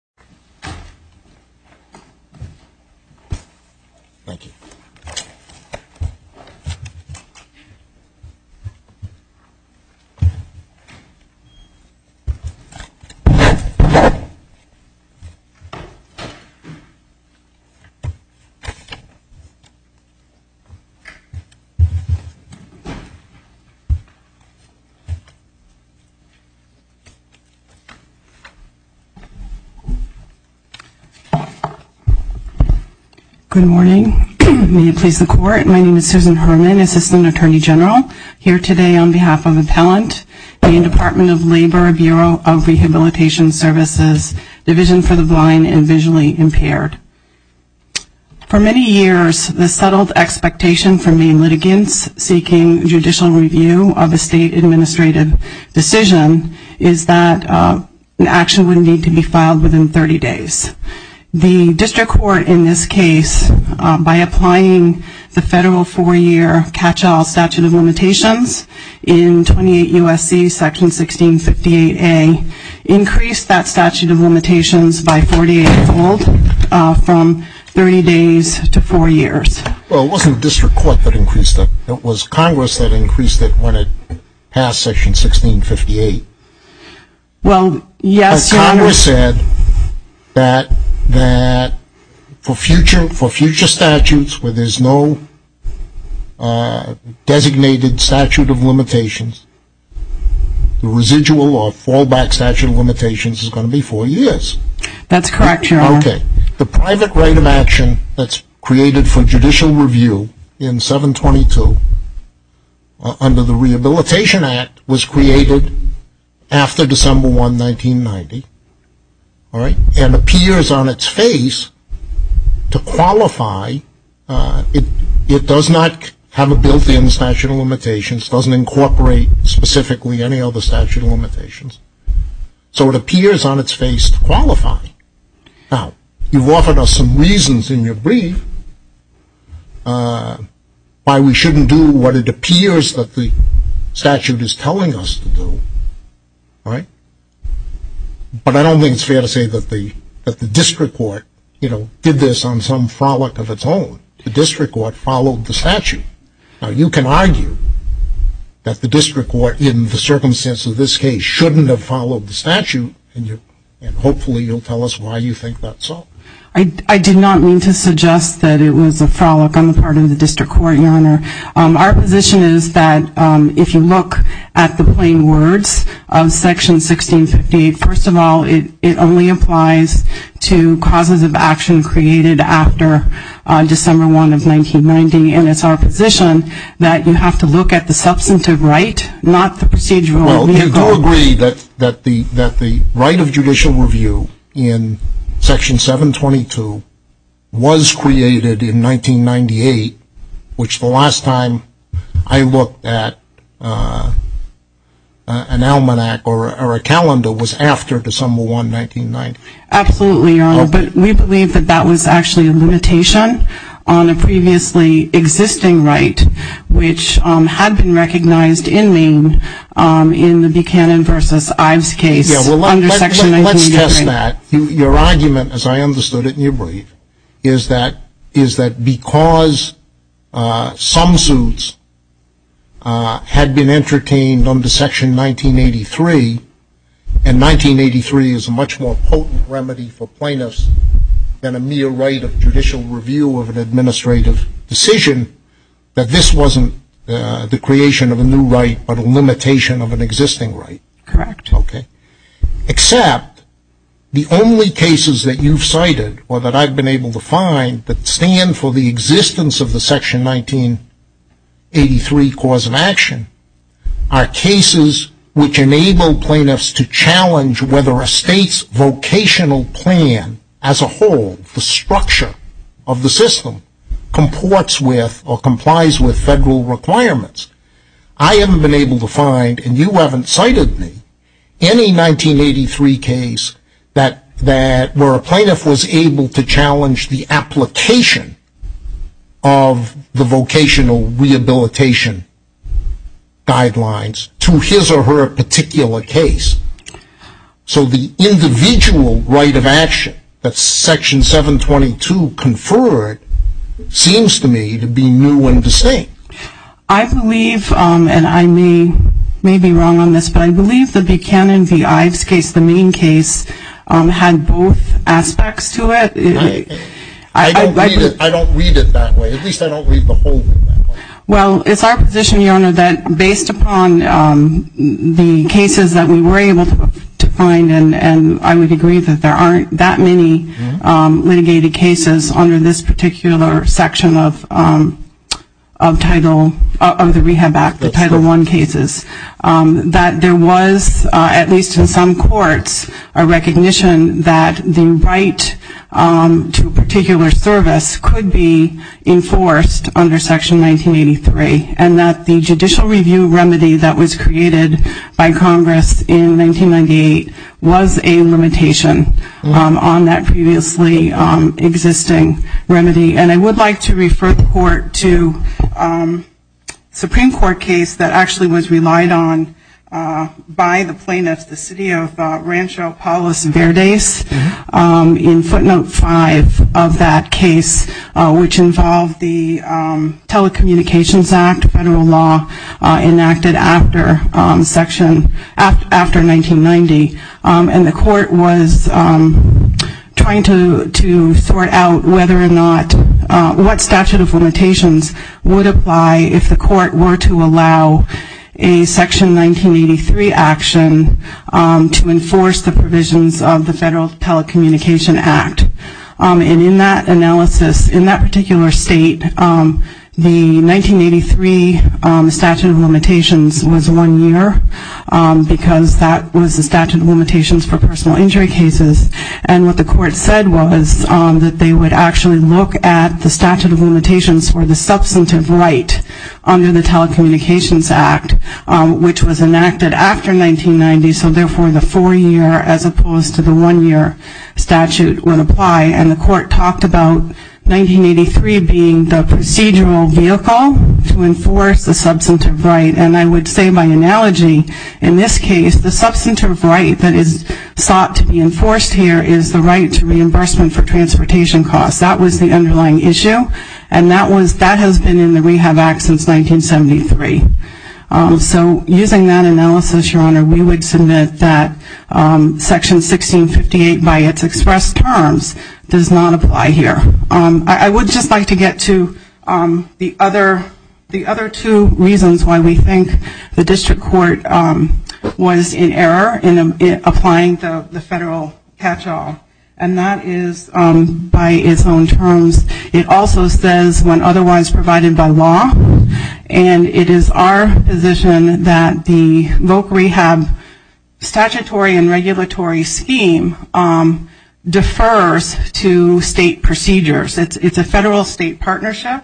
the Liberal Arts and Sciences Research and occasion. Good morning. May it please the Court. My name is Susan Herman, Assistant Attorney General, here today on behalf of Appellant, Maine Department of Labor, Bureau of Rehabilitation Services, Division for the Blind and Visually Impaired. For many years, the settled expectation for Maine litigants seeking judicial review of a state administrative decision is that an action would need to be filed within 30 days. The district court in this case, by applying the federal four-year catch-all statute of limitations in 28 U.S.C. section 1658A, increased that statute of limitations by 48-fold from 30 days to four years. Well, it wasn't the district court that increased it. It was Congress that increased it when it passed section 1658. Well, yes, Your Honor. Congress said that for future statutes where there's no designated statute of limitations, the residual or fallback statute of limitations is going to be four years. That's correct, Your Honor. Okay. The private right of action that's created for judicial review in 722 under the Rehabilitation Act was created after December 1, 1990, all right, and appears on its face to qualify. It does not have a built-in statute of limitations. It doesn't incorporate specifically any other statute of limitations. So it appears on its face to qualify. Now, you've offered us some reasons in your brief why we shouldn't do what it appears that the statute is telling us to do, right? But I don't think it's fair to say that the district court, you know, did this on some frolic of its own. The district court followed the statute. Now, you can argue that the district court in the circumstance of this case shouldn't have followed the statute, and hopefully you'll tell us why you think that's so. I did not mean to suggest that it was a frolic on the part of the district court, Your Honor. Our position is that if you look at the plain words of section 1658, first of all, it only applies to causes of action created after December 1, 1990, and it's our position that you have to look at the substantive right, not the procedural legal right. Well, you do agree that the right of judicial review in section 722 was created in 1998, which the last time I looked at an almanac or a calendar was after December 1, 1990. Absolutely, Your Honor, but we believe that that was actually a limitation on a previously existing right, which had been recognized in Maine in the Buchanan v. Ives case under section 1983. Let's test that. Your argument, as I understood it, and you believe, is that because some suits had been entertained under section 1983, and 1983 is a much more potent statute than remedy for plaintiffs, than a mere right of judicial review of an administrative decision, that this wasn't the creation of a new right, but a limitation of an existing right? Correct. Okay. Except the only cases that you've cited, or that I've been able to find, that stand for the existence of the section 1983 cause of action, are cases which enable plaintiffs to challenge whether a state's vocational plan as a whole, the structure of the system, comports with or complies with federal requirements. I haven't been able to find, and you haven't cited me, any 1983 case where a plaintiff was able to challenge the application of the statute. So the individual right of action that section 722 conferred seems to me to be new and distinct. I believe, and I may be wrong on this, but I believe the Buchanan v. Ives case, the Maine case, had both aspects to it. I don't read it that way. At least I don't read the whole thing that way. Well, it's our position, your Honor, that based upon the cases that we were able to find, and I would agree that there aren't that many litigated cases under this particular section of Title, of the Rehab Act, the Title I cases, that there was, at least in some courts, a recognition that the right to a particular service could be enforced under Section 1983, and that the judicial review remedy that was created by Congress in 1998 was a limitation on that previously existing remedy. And I would like to refer the Court to a Supreme Court case that actually was relied on by the plaintiffs, the city of Rancho Palos Verdes, in footnote 5 of that case, which involved the Telecommunications Act, federal law, enacted after section, after 1990, and the Court was trying to sort out whether or not, what statute of limitations would apply if the Court were to allow a Section 1983 action to enforce the provisions of the Federal Telecommunication Act. And in that analysis, in that particular state, the 1983 statute of limitations was one year, because that was the statute of limitations for personal injury cases, and what the Court said was that they would actually look at the statute of limitations for the substantive right under the Telecommunications Act, which was enacted after 1990, so therefore the four-year as opposed to the one-year statute would apply, and the Court talked about 1983 being the procedural vehicle to enforce the substantive right, and I would say by analogy, in this case, the substantive right that is sought to be enforced here is the right to reimbursement for transportation costs. That was the underlying issue, and that was, that has been in the Rehab Act since 1973. So, using that analysis, Your Honor, we would submit that Section 1658 by its expressed terms does not apply here. I would just like to get to the other two reasons why we think the District Court was in error in applying the federal catch-all, and that is by its own terms, it also says when otherwise provided by law, and it is our position that the voc rehab statutory and regulatory scheme defers to state procedures. It's a federal-state partnership,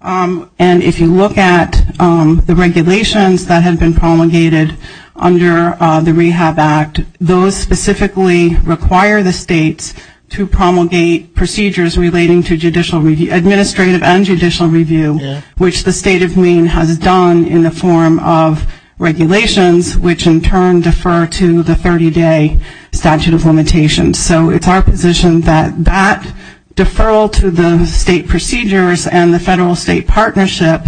and if you look at the regulations that have been promulgated under the Rehab Act, those specifically require the states to promulgate procedures relating to judicial review, administrative and judicial review, which the State of Maine has done in the form of regulations, which in turn defer to the 30-day statute of limitations. So it's our position that that deferral to the state procedures and the federal-state partnership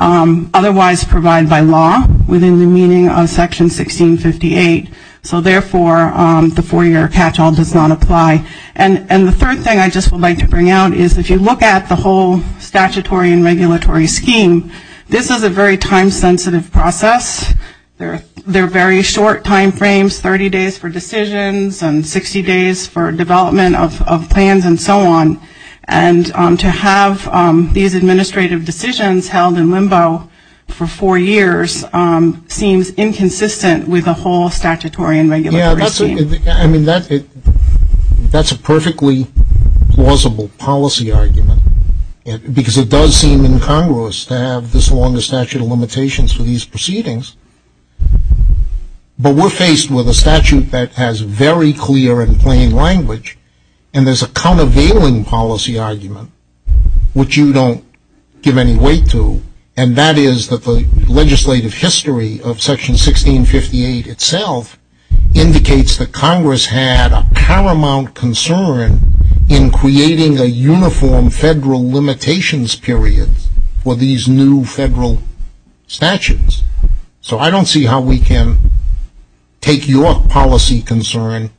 otherwise provided by law within the meaning of Section 1658, so therefore, the four-year catch-all does not apply. And the third thing I just would like to bring out is if you look at the whole statutory and regulatory scheme, this is a very time-sensitive process. There are very short time frames, 30 days for decisions and 60 days for development of plans and so on, and to have these administrative decisions held in limbo for four years seems inconsistent with the whole statutory and regulatory scheme. Yeah, I mean, that's a perfectly plausible policy argument, because it does seem incongruous to have this long a statute of limitations for these proceedings, but we're faced with a statute that has very clear and plain language, and there's a countervailing policy argument, which you don't give any weight to, and that is that the legislative history of Section 1658 itself indicates that Congress had a paramount concern in creating a uniform federal limitations period for these new federal statutes. So I don't see how we can take your position of policy concern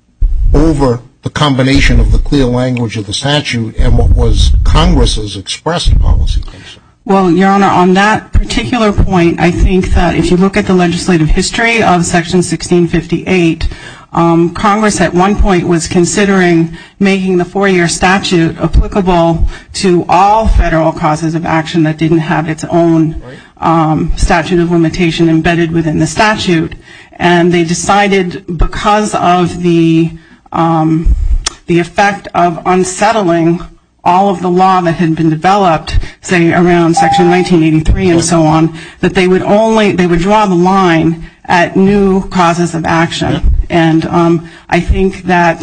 over the combination of the clear language of the statute and what was Congress's expressed policy concern. Well, Your Honor, on that particular point, I think that if you look at the legislative history of Section 1658, Congress at one point was considering making the four-year statute applicable to all federal causes of action that didn't have its own statute of limitation because of the effect of unsettling all of the law that had been developed, say, around Section 1983 and so on, that they would draw the line at new causes of action, and I think that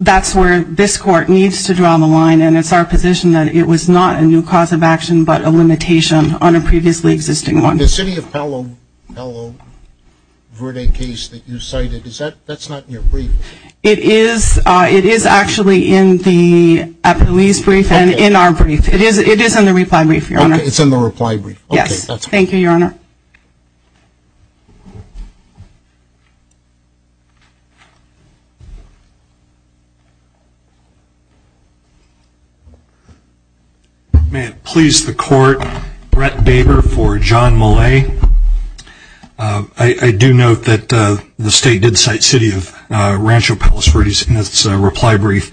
that's where this Court needs to draw the line, and it's our position that it was not a new cause of action, but a limitation on a previously existing one. And the City of Palo Verde case that you cited, that's not in your brief. It is actually in the police brief and in our brief. It is in the reply brief, Your Honor. Okay, it's in the reply brief, okay, that's fine. Yes, thank you, Your Honor. May it please the Court, Brett Baber for John Maloney. I do note that the State did cite City of Rancho Palos Verdes in its reply brief.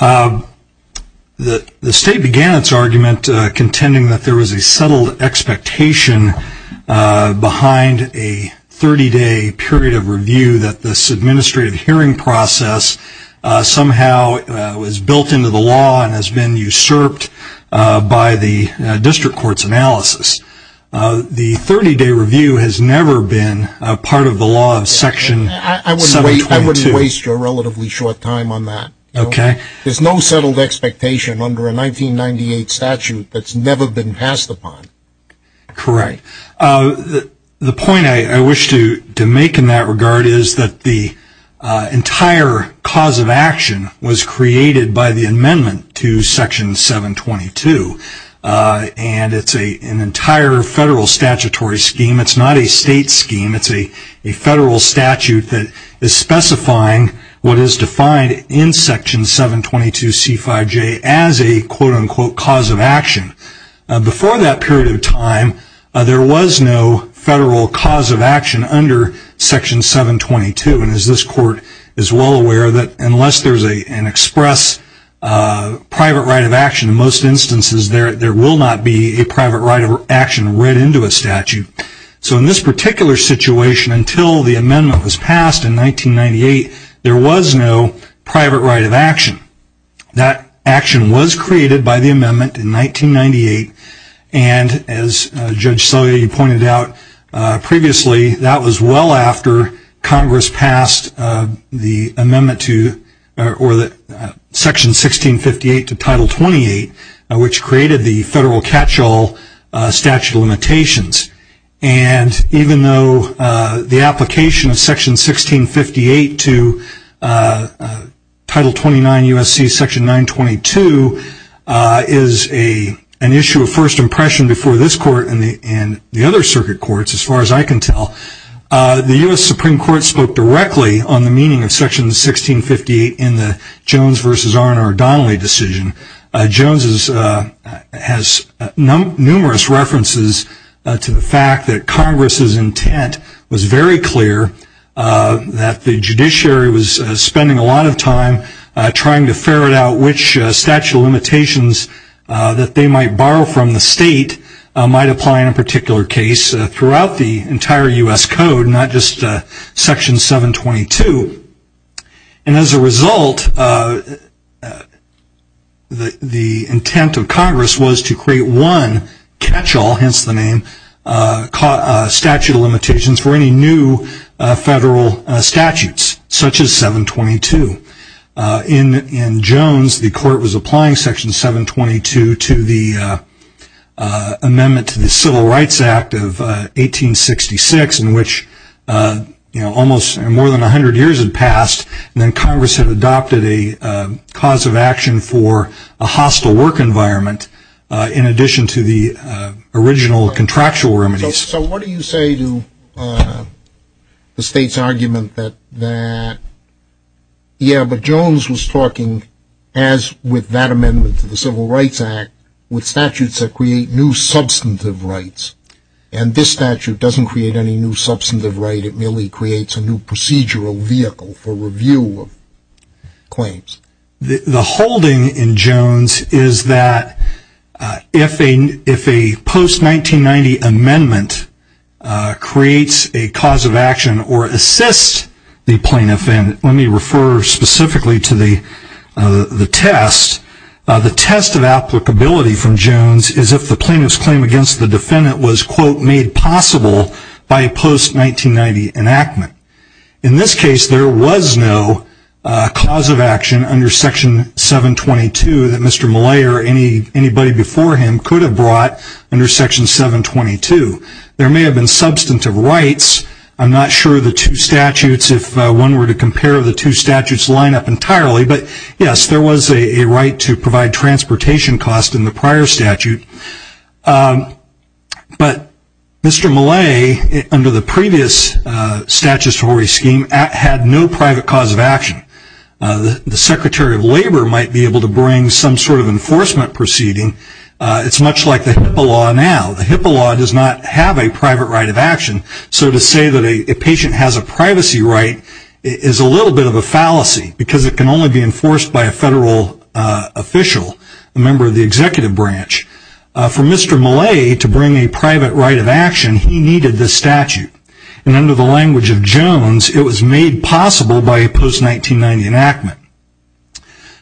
The State began its argument contending that there was a settled expectation behind a 30-day period of review that this administrative hearing process somehow was built into the statute. The 30-day review has never been a part of the law of Section 722. I wouldn't waste your relatively short time on that. There's no settled expectation under a 1998 statute that's never been passed upon. Correct. The point I wish to make in that regard is that the entire cause of action was created by the amendment to Section 722, and it's an entire federal statutory amendment scheme. It's not a state scheme. It's a federal statute that is specifying what is defined in Section 722C5J as a quote-unquote cause of action. Before that period of time, there was no federal cause of action under Section 722, and as this Court is well aware, unless there's an express private right of action, in most instances there will not be a private right of action read into a statute. So in this particular situation, until the amendment was passed in 1998, there was no private right of action. That action was created by the amendment in 1998, and as Judge Selye pointed out previously, that was well after Congress passed Section 1658 to Title 28, which created the federal catch-all statute of limitations. And even though the application of Section 1658 to Title 29 U.S.C. Section 922 is an issue of first impression before this Court and the other circuit courts, as far as I can tell, the U.S. Supreme Court spoke directly on the meaning of Section 1658 in the Jones v. R. R. Donnelly decision. Jones has numerous references to the fact that Congress's intent was very clear that the judiciary was spending a lot of time trying to ferret out which statute of limitations that they might borrow from the state might apply in a particular case throughout the entire U.S. Code, not just Section 722. And as a result, the intent of Congress was to create one catch-all, hence the name, statute of limitations for any new federal statutes, such as 722. In Jones, the Court was applying Section 722 to the amendment to the Civil Rights Act of 1866, in which almost more than a hundred years had passed, and then Congress had adopted a cause of action for a hostile work environment in addition to the original contractual remedies. So what do you say to the state's argument that, yeah, but Jones was talking, as with that amendment to the Civil Rights Act, with statutes that create new substantive rights, and this statute doesn't create any new substantive right, it merely creates a new procedural vehicle for review of claims? The holding in Jones is that if a post-1990 amendment creates a cause of action or assists the plaintiff, and let me refer specifically to the test, the test of applicability from the state was, quote, made possible by a post-1990 enactment. In this case, there was no cause of action under Section 722 that Mr. Mallay or anybody before him could have brought under Section 722. There may have been substantive rights. I'm not sure the two statutes, if one were to compare the two statutes, line up entirely, but yes, there was a right to private right of action. But Mr. Mallay, under the previous statutory scheme, had no private cause of action. The Secretary of Labor might be able to bring some sort of enforcement proceeding. It's much like the HIPAA law now. The HIPAA law does not have a private right of action. So to say that a patient has a privacy right is a little bit of a fallacy because it can only be enforced by a federal official, a member of the executive branch. For Mr. Mallay to bring a private right of action, he needed this statute. And under the language of Jones, it was made possible by a post-1990 enactment.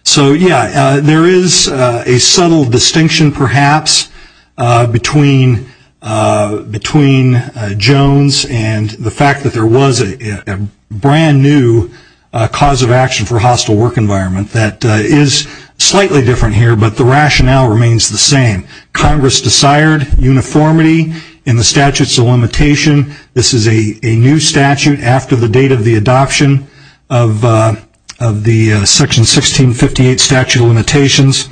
So, yeah, there is a subtle distinction, perhaps, between Jones and the fact that there was a brand new cause of action for a hostile work environment that is slightly different here, but the rationale remains the same. Congress desired uniformity in the statutes of limitation. This is a new statute after the date of the adoption of the Section 1658 statute of limitations.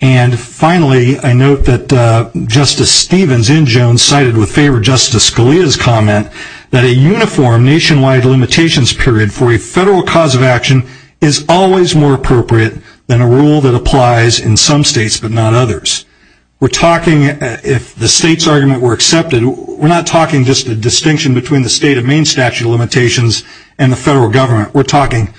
And finally, I note that Justice Stevens in Jones cited with favor Justice Scalia's comment that a uniform nationwide limitations period for a federal cause of action is always more than others. We're talking, if the state's argument were accepted, we're not talking just a distinction between the state of Maine statute of limitations and the federal government. We're talking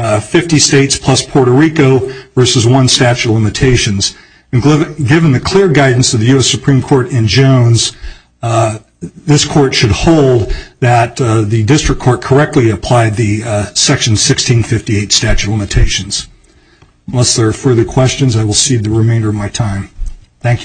50 states plus Puerto Rico versus one statute of limitations. Given the clear guidance of the U.S. Supreme Court in Jones, this court should hold that the district court correctly applied the Section 1658 statute of limitations. Unless there are further questions, I will cede the remainder of my time. Thank you.